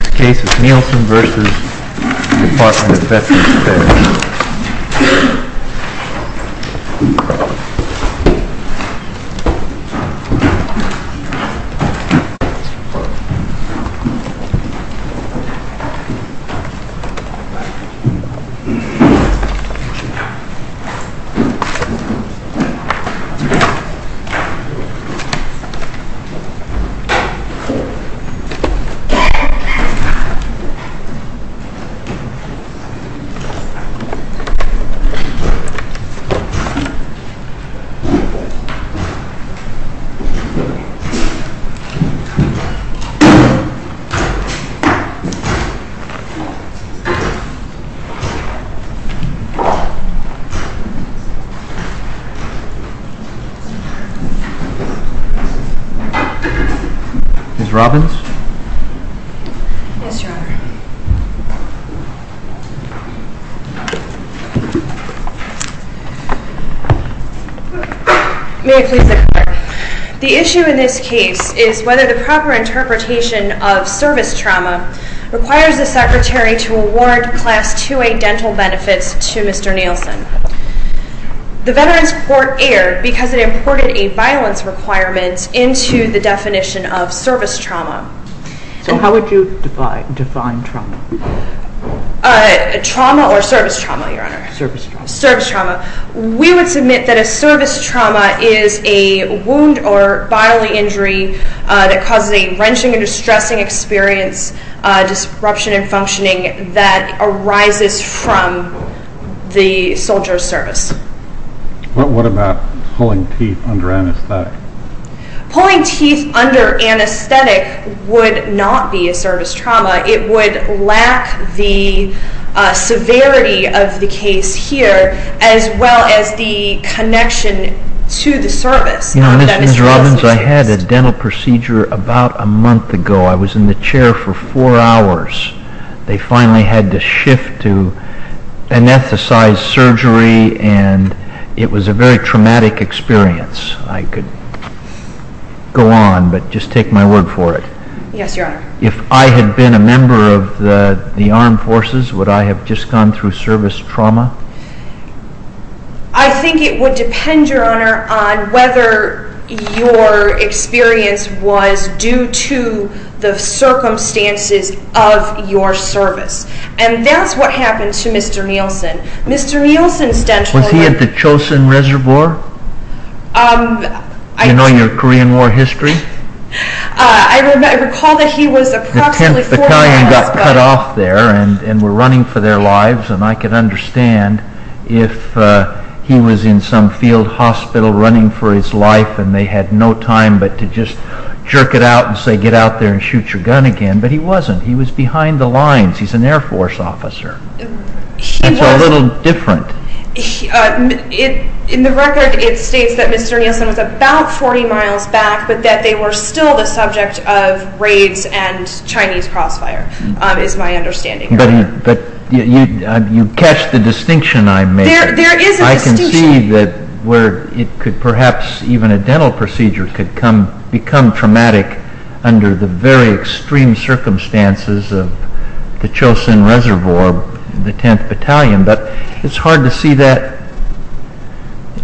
This case is Nielson v. Department of Veterans Affairs. Ms. Robbins? Yes, Your Honor. May I please declare? The issue in this case is whether the proper interpretation of service trauma requires the Secretary to award Class II-A dental benefits to Mr. Nielson. The Veterans Court erred because it imported a violence requirement into the definition of service trauma. So how would you define trauma? Trauma or service trauma, Your Honor? Service trauma. Service trauma. We would submit that a service trauma is a wound or bodily injury that causes a wrenching and distressing experience, disruption in functioning that arises from the soldier's service. What about pulling teeth under anesthetic? Pulling teeth under anesthetic would not be a service trauma. It would lack the severity of the case here as well as the connection to the service. Ms. Robbins, I had a dental procedure about a month ago. I was in the chair for four hours. They finally had to shift to anesthetized surgery, and it was a very traumatic experience. I could go on, but just take my word for it. Yes, Your Honor. If I had been a member of the armed forces, would I have just gone through service trauma? I think it would depend, Your Honor, on whether your experience was due to the circumstances of your service. And that's what happened to Mr. Nielsen. Mr. Nielsen's dental. Was he at the Chosin Reservoir? Do you know your Korean War history? I recall that he was approximately four hours. The 10th Battalion got cut off there and were running for their lives, and I could understand if he was in some field hospital running for his life and they had no time but to just jerk it out and say, get out there and shoot your gun again. But he wasn't. He was behind the lines. He's an Air Force officer. That's a little different. In the record, it states that Mr. Nielsen was about 40 miles back, but that they were still the subject of raids and Chinese crossfire, is my understanding, Your Honor. But you catch the distinction I make. There is a distinction. I can see that perhaps even a dental procedure could become traumatic under the very extreme circumstances of the Chosin Reservoir, the 10th Battalion. But it's hard to see that.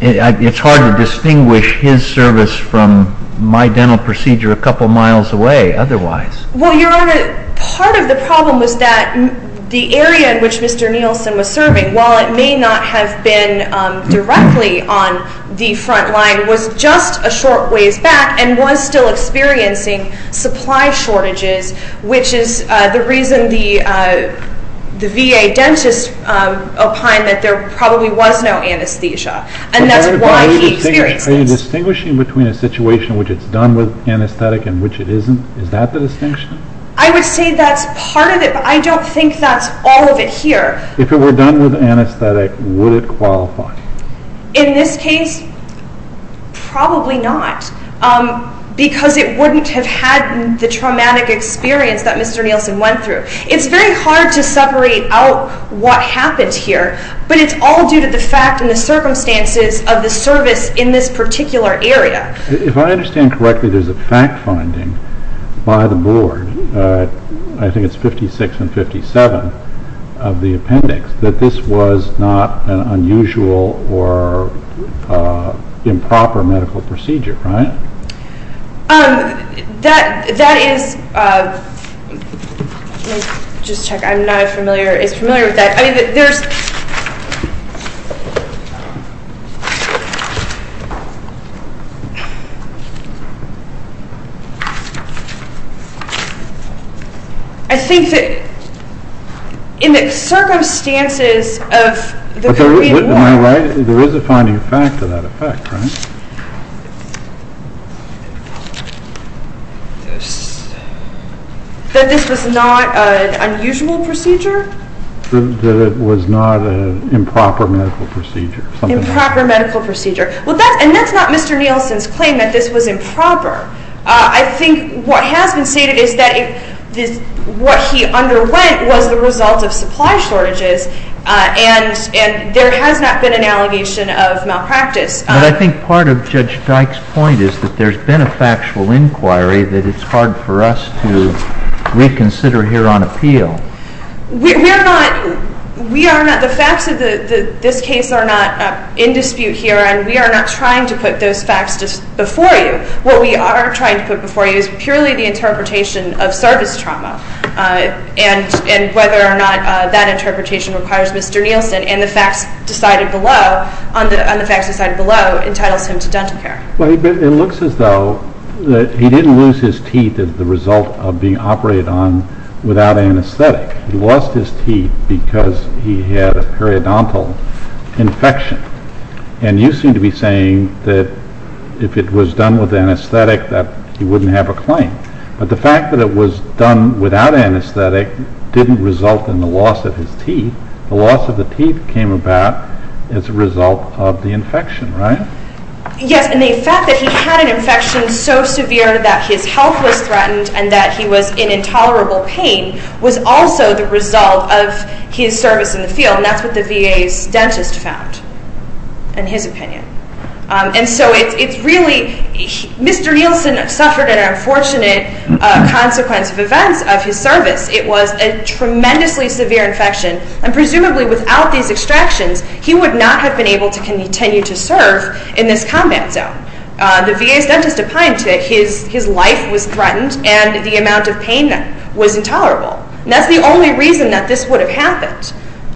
It's hard to distinguish his service from my dental procedure a couple miles away otherwise. Well, Your Honor, part of the problem was that the area in which Mr. Nielsen was serving, while it may not have been directly on the front line, was just a short ways back and was still experiencing supply shortages, which is the reason the VA dentist opined that there probably was no anesthesia, and that's why he experienced this. Are you distinguishing between a situation in which it's done with anesthetic and which it isn't? Is that the distinction? I would say that's part of it, but I don't think that's all of it here. If it were done with anesthetic, would it qualify? In this case, probably not, because it wouldn't have had the traumatic experience that Mr. Nielsen went through. It's very hard to separate out what happened here, but it's all due to the fact and the circumstances of the service in this particular area. If I understand correctly, there's a fact-finding by the Board, I think it's 56 and 57 of the appendix, that this was not an unusual or improper medical procedure, right? That is – let me just check. I'm not as familiar – as familiar with that. I mean, there's – I think that in the circumstances of the Caribbean War – that this was not an unusual procedure? That it was not an improper medical procedure. Improper medical procedure. And that's not Mr. Nielsen's claim that this was improper. I think what has been stated is that what he underwent was the result of supply shortages, and there has not been an allegation of malpractice. But I think part of Judge Dyke's point is that there's been a factual inquiry that it's hard for us to reconsider here on appeal. We are not – the facts of this case are not in dispute here, and we are not trying to put those facts before you. What we are trying to put before you is purely the interpretation of service trauma and whether or not that interpretation requires Mr. Nielsen, and the facts decided below entitles him to dental care. Well, it looks as though he didn't lose his teeth as the result of being operated on without anesthetic. He lost his teeth because he had a periodontal infection. And you seem to be saying that if it was done with anesthetic that he wouldn't have a claim. But the fact that it was done without anesthetic didn't result in the loss of his teeth. The loss of the teeth came about as a result of the infection, right? Yes, and the fact that he had an infection so severe that his health was threatened and that he was in intolerable pain was also the result of his service in the field, and that's what the VA's dentist found, in his opinion. And so it's really – Mr. Nielsen suffered an unfortunate consequence of events of his service. It was a tremendously severe infection, and presumably without these extractions, he would not have been able to continue to serve in this combat zone. The VA's dentist opined that his life was threatened and the amount of pain was intolerable. And that's the only reason that this would have happened.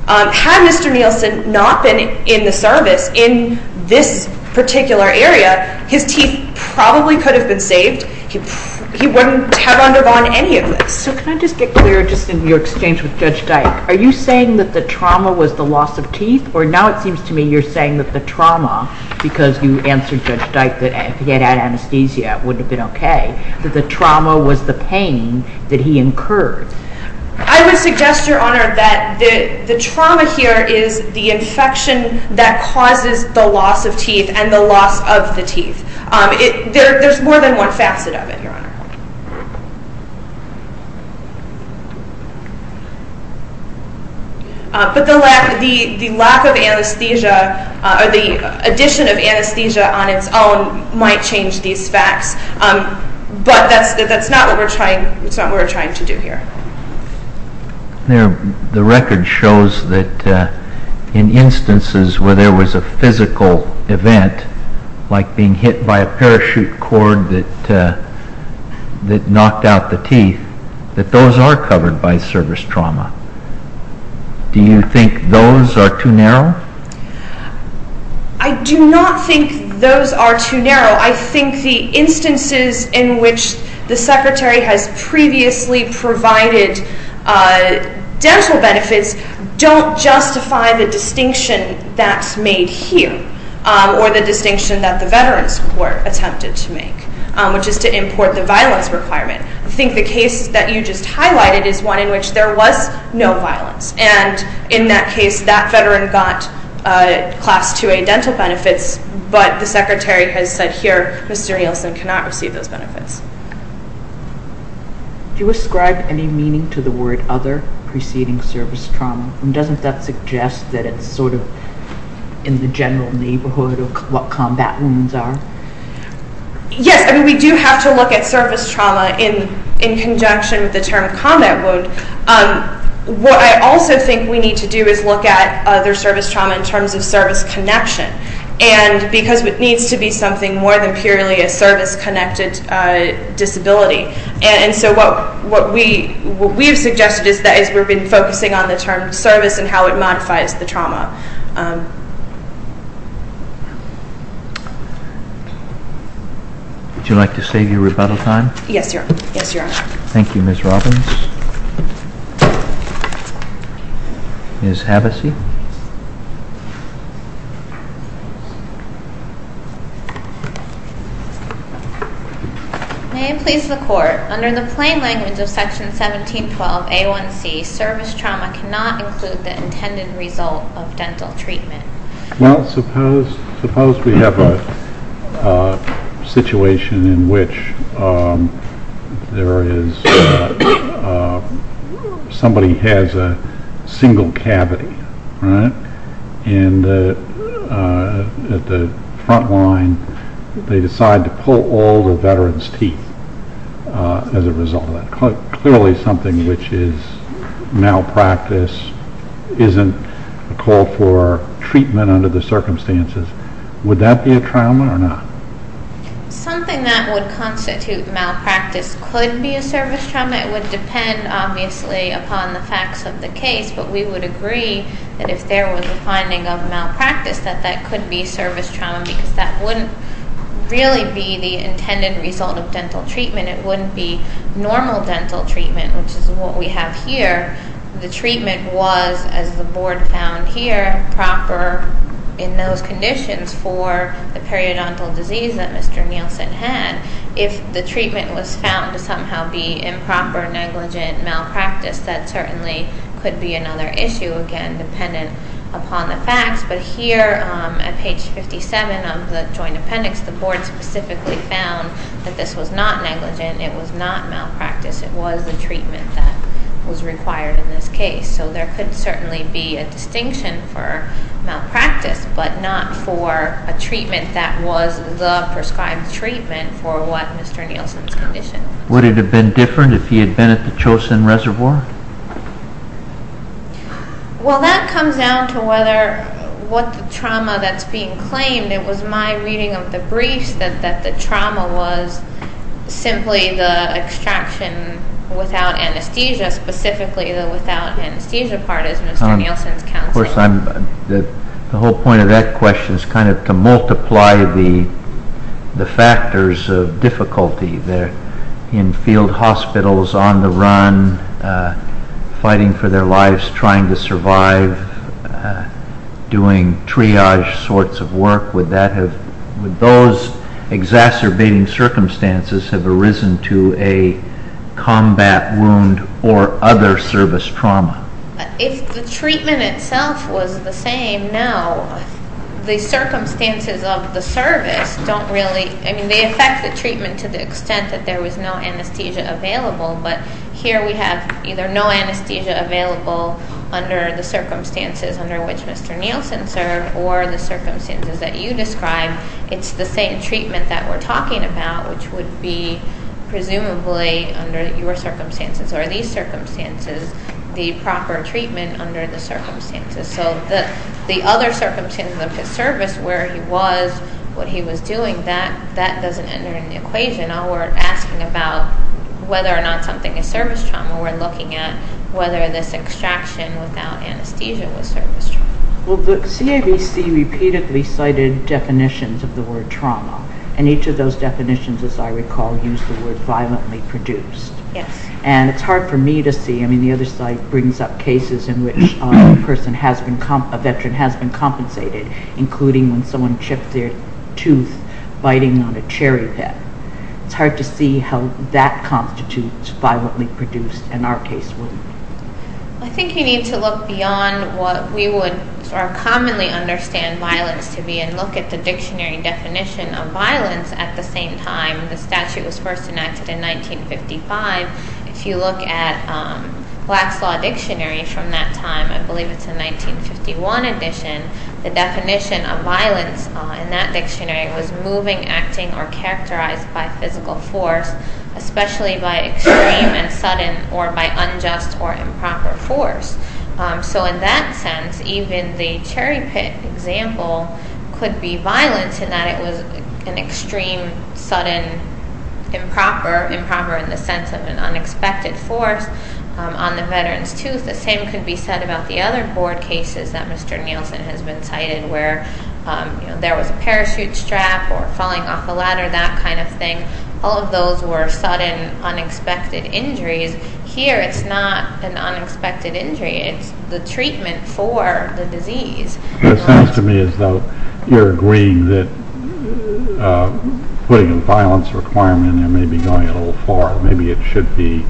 Had Mr. Nielsen not been in the service in this particular area, his teeth probably could have been saved. He wouldn't have undergone any of this. So can I just get clear, just in your exchange with Judge Dyke, are you saying that the trauma was the loss of teeth, or now it seems to me you're saying that the trauma, because you answered Judge Dyke that if he had had anesthesia it would have been okay, that the trauma was the pain that he incurred? I would suggest, Your Honor, that the trauma here is the infection that causes the loss of teeth and the loss of the teeth. There's more than one facet of it, Your Honor. But the lack of anesthesia, or the addition of anesthesia on its own, might change these facts. But that's not what we're trying to do here. The record shows that in instances where there was a physical event, like being hit by a parachute cord that knocked out the teeth, that those are covered by service trauma. Do you think those are too narrow? I do not think those are too narrow. I think the instances in which the Secretary has previously provided dental benefits don't justify the distinction that's made here, or the distinction that the Veterans Court attempted to make, which is to import the violence requirement. I think the case that you just highlighted is one in which there was no violence, and in that case that veteran got Class 2A dental benefits, but the Secretary has said here, Mr. Nielsen cannot receive those benefits. Do you ascribe any meaning to the word other preceding service trauma? And doesn't that suggest that it's sort of in the general neighborhood of what combat wounds are? Yes. I mean, we do have to look at service trauma in conjunction with the term combat wound. What I also think we need to do is look at other service trauma in terms of service connection. And because it needs to be something more than purely a service-connected disability. And so what we have suggested is that we've been focusing on the term service and how it modifies the trauma. Would you like to save your rebuttal time? Yes, Your Honor. Thank you, Ms. Robbins. Ms. Havasey. May it please the Court. Under the plain language of Section 1712A1C, service trauma cannot include the intended result of dental treatment. Well, suppose we have a situation in which somebody has a single cavity, right? And at the front line, they decide to pull all the veteran's teeth as a result of that. Clearly something which is malpractice isn't a call for treatment under the circumstances. Would that be a trauma or not? Something that would constitute malpractice could be a service trauma. It would depend, obviously, upon the facts of the case. But we would agree that if there was a finding of malpractice, that that could be service trauma. Because that wouldn't really be the intended result of dental treatment. It wouldn't be normal dental treatment, which is what we have here. The treatment was, as the Board found here, proper in those conditions for the periodontal disease that Mr. Nielsen had. If the treatment was found to somehow be improper, negligent, malpractice, that certainly could be another issue, again, dependent upon the facts. But here at page 57 of the Joint Appendix, the Board specifically found that this was not negligent. It was not malpractice. It was the treatment that was required in this case. So there could certainly be a distinction for malpractice, but not for a treatment that was the prescribed treatment for what Mr. Nielsen's condition. Would it have been different if he had been at the Chosin Reservoir? Well, that comes down to what the trauma that's being claimed. It was my reading of the briefs that the trauma was simply the extraction without anesthesia, specifically the without anesthesia part, as Mr. Nielsen's counseling. Of course, the whole point of that question is kind of to multiply the factors of difficulty. They're in field hospitals, on the run, fighting for their lives, trying to survive, doing triage sorts of work. Would those exacerbating circumstances have arisen to a combat wound or other service trauma? If the treatment itself was the same, no. The circumstances of the service don't really – I mean, they affect the treatment to the extent that there was no anesthesia available, but here we have either no anesthesia available under the circumstances under which Mr. Nielsen served or the circumstances that you described, it's the same treatment that we're talking about, which would be presumably under your circumstances or these circumstances the proper treatment under the circumstances. So the other circumstances of his service, where he was, what he was doing, that doesn't enter in the equation. Now we're asking about whether or not something is service trauma. We're looking at whether this extraction without anesthesia was service trauma. Well, the CAVC repeatedly cited definitions of the word trauma, and each of those definitions, as I recall, used the word violently produced. Yes. And it's hard for me to see. I mean, the other side brings up cases in which a person has been – a veteran has been compensated, including when someone chipped their tooth biting on a cherry pit. It's hard to see how that constitutes violently produced in our case. I think you need to look beyond what we would commonly understand violence to be and look at the dictionary definition of violence at the same time. The statute was first enacted in 1955. If you look at Black's Law Dictionary from that time, I believe it's a 1951 edition, the definition of violence in that dictionary was moving, acting, or characterized by physical force, especially by extreme and sudden or by unjust or improper force. So in that sense, even the cherry pit example could be violent in that it was an extreme, sudden, improper, improper in the sense of an unexpected force on the veteran's tooth. The same could be said about the other board cases that Mr. Nielsen has been citing where, you know, there was a parachute strap or falling off a ladder, that kind of thing. All of those were sudden, unexpected injuries. Here, it's not an unexpected injury. It's the treatment for the disease. It sounds to me as though you're agreeing that putting a violence requirement in there may be going a little far. Maybe it should be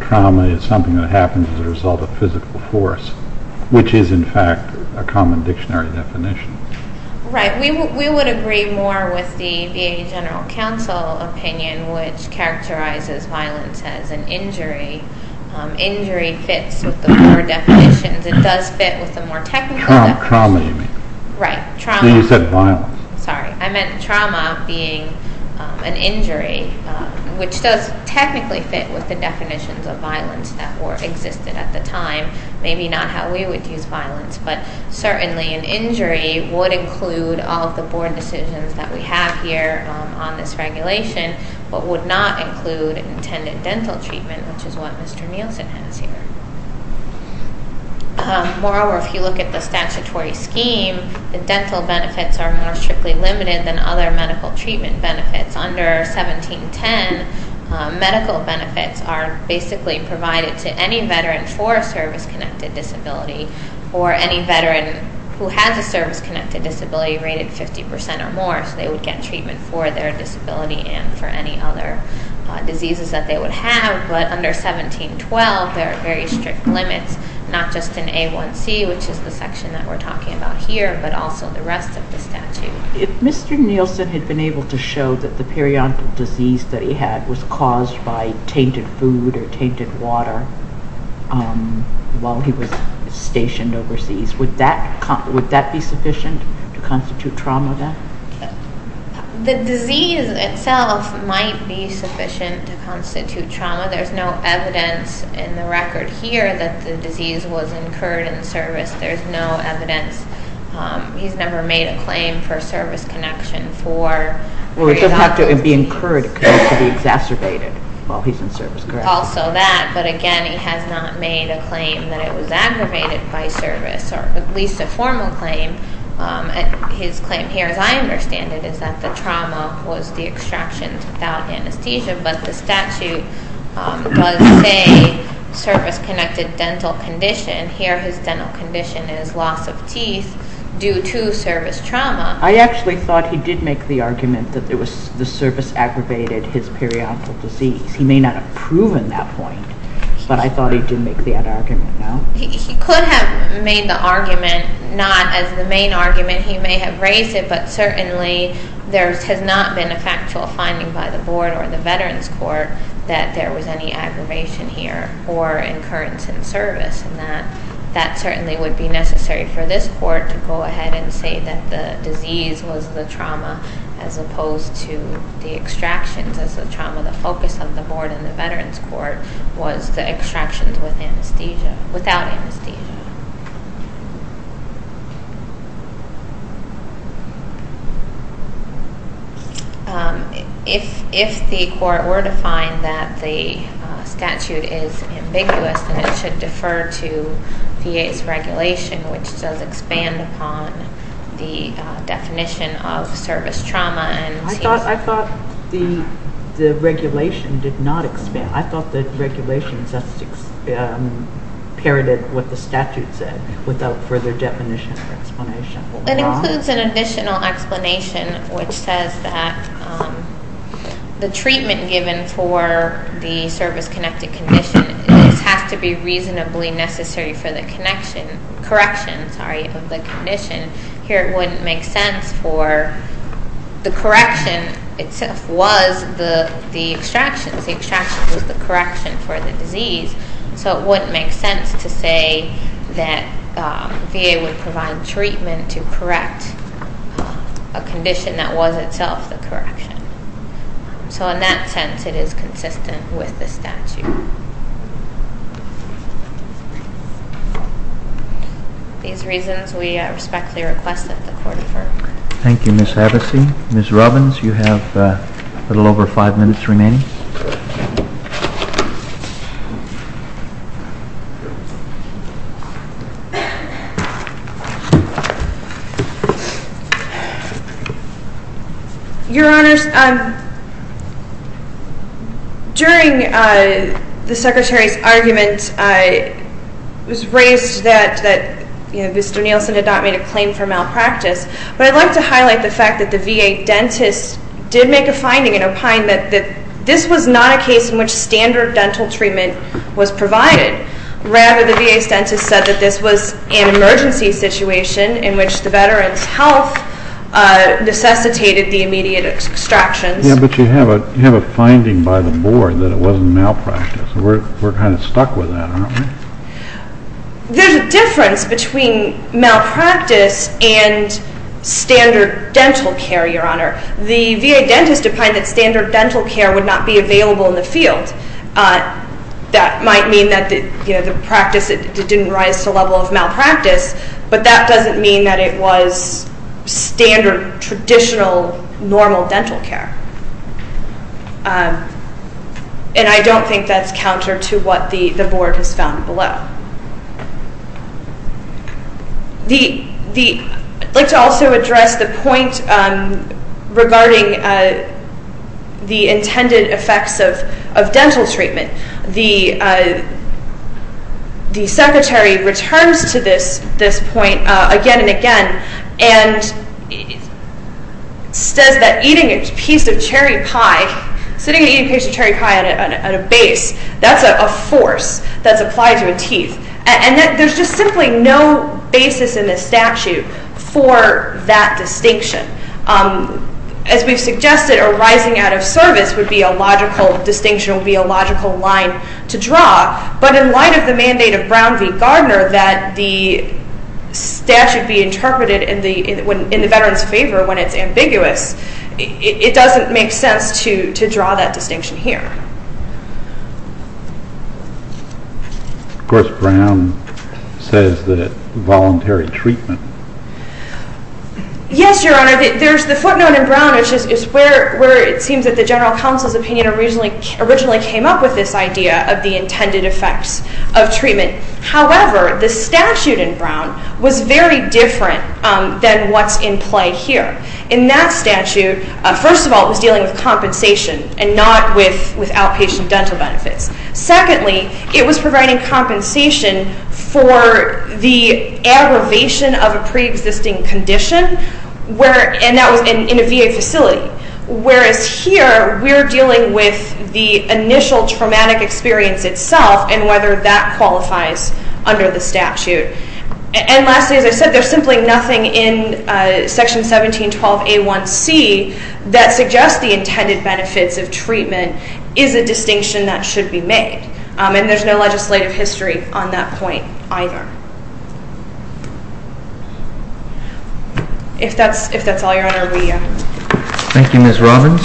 trauma. It's something that happens as a result of physical force, which is, in fact, a common dictionary definition. Right. We would agree more with the VA General Counsel opinion, which characterizes violence as an injury. Injury fits with the four definitions. It does fit with the more technical definitions. Trauma, you mean. Right. So you said violence. Sorry. I meant trauma being an injury, which does technically fit with the definitions of violence that existed at the time, maybe not how we would use violence. But certainly an injury would include all of the board decisions that we have here on this regulation, but would not include intended dental treatment, which is what Mr. Nielsen has here. Moreover, if you look at the statutory scheme, the dental benefits are more strictly limited than other medical treatment benefits. Under 1710, medical benefits are basically provided to any veteran for a service-connected disability or any veteran who has a service-connected disability rated 50% or more, so they would get treatment for their disability and for any other diseases that they would have. But under 1712, there are very strict limits, not just in A1C, which is the section that we're talking about here, but also the rest of the statute. If Mr. Nielsen had been able to show that the periodontal disease that he had was caused by tainted food or tainted water while he was stationed overseas, would that be sufficient to constitute trauma then? The disease itself might be sufficient to constitute trauma. There's no evidence in the record here that the disease was incurred in service. There's no evidence. He's never made a claim for service connection for periodontal disease. Well, it doesn't have to be incurred because it could be exacerbated while he's in service, correct? Also that, but again, he has not made a claim that it was aggravated by service or at least a formal claim. His claim here, as I understand it, is that the trauma was the extraction without anesthesia, but the statute does say service-connected dental condition. And here his dental condition is loss of teeth due to service trauma. I actually thought he did make the argument that the service aggravated his periodontal disease. He may not have proven that point, but I thought he did make that argument, no? He could have made the argument not as the main argument. He may have raised it, but certainly there has not been a factual finding by the board or the Veterans Court that there was any aggravation here or incurrence in service. And that certainly would be necessary for this court to go ahead and say that the disease was the trauma as opposed to the extractions as the trauma. The focus of the board in the Veterans Court was the extractions with anesthesia, without anesthesia. If the court were to find that the statute is ambiguous, then it should defer to VA's regulation, which does expand upon the definition of service trauma. I thought the regulation did not expand. I thought the regulation just parroted what the statute said without further definition or explanation. It includes an additional explanation, which says that the treatment given for the service-connected condition has to be reasonably necessary for the correction of the condition. Here it wouldn't make sense for the correction itself was the extractions. The extractions was the correction for the disease. So it wouldn't make sense to say that VA would provide treatment to correct a condition that was itself the correction. So in that sense, it is consistent with the statute. These reasons we respectfully request that the court defer. Thank you, Ms. Hevesy. Ms. Robbins, you have a little over five minutes remaining. Your Honors, during the Secretary's argument, it was raised that Mr. Nielsen had not made a claim for malpractice. But I'd like to highlight the fact that the VA dentist did make a finding and opine that this was not a case in which standard dental treatment was provided. Rather, the VA dentist said that this was an emergency situation in which the veteran's health necessitated the immediate extractions. Yeah, but you have a finding by the board that it wasn't malpractice. We're kind of stuck with that, aren't we? There's a difference between malpractice and standard dental care, Your Honor. The VA dentist opined that standard dental care would not be available in the field. That might mean that the practice didn't rise to the level of malpractice, but that doesn't mean that it was standard, traditional, normal dental care. And I don't think that's counter to what the board has found below. I'd like to also address the point regarding the intended effects of dental treatment. The Secretary returns to this point again and again and says that eating a piece of cherry pie, sitting and eating a piece of cherry pie at a base, that's a force that's applied to a teeth. And there's just simply no basis in the statute for that distinction. As we've suggested, a rising out of service would be a logical distinction, would be a logical line to draw. But in light of the mandate of Brown v. Gardner that the statute be interpreted in the veterans' favor when it's ambiguous, it doesn't make sense to draw that distinction here. Of course, Brown says that it's voluntary treatment. Yes, Your Honor. The footnote in Brown is where it seems that the general counsel's opinion originally came up with this idea of the intended effects of treatment. However, the statute in Brown was very different than what's in play here. In that statute, first of all, it was dealing with compensation and not with outpatient dental benefits. Secondly, it was providing compensation for the aggravation of a preexisting condition, and that was in a VA facility. Whereas here, we're dealing with the initial traumatic experience itself and whether that qualifies under the statute. And lastly, as I said, there's simply nothing in Section 1712A1C that suggests the intended benefits of treatment is a distinction that should be made. And there's no legislative history on that point either. If that's all, Your Honor, we… Thank you, Ms. Robbins.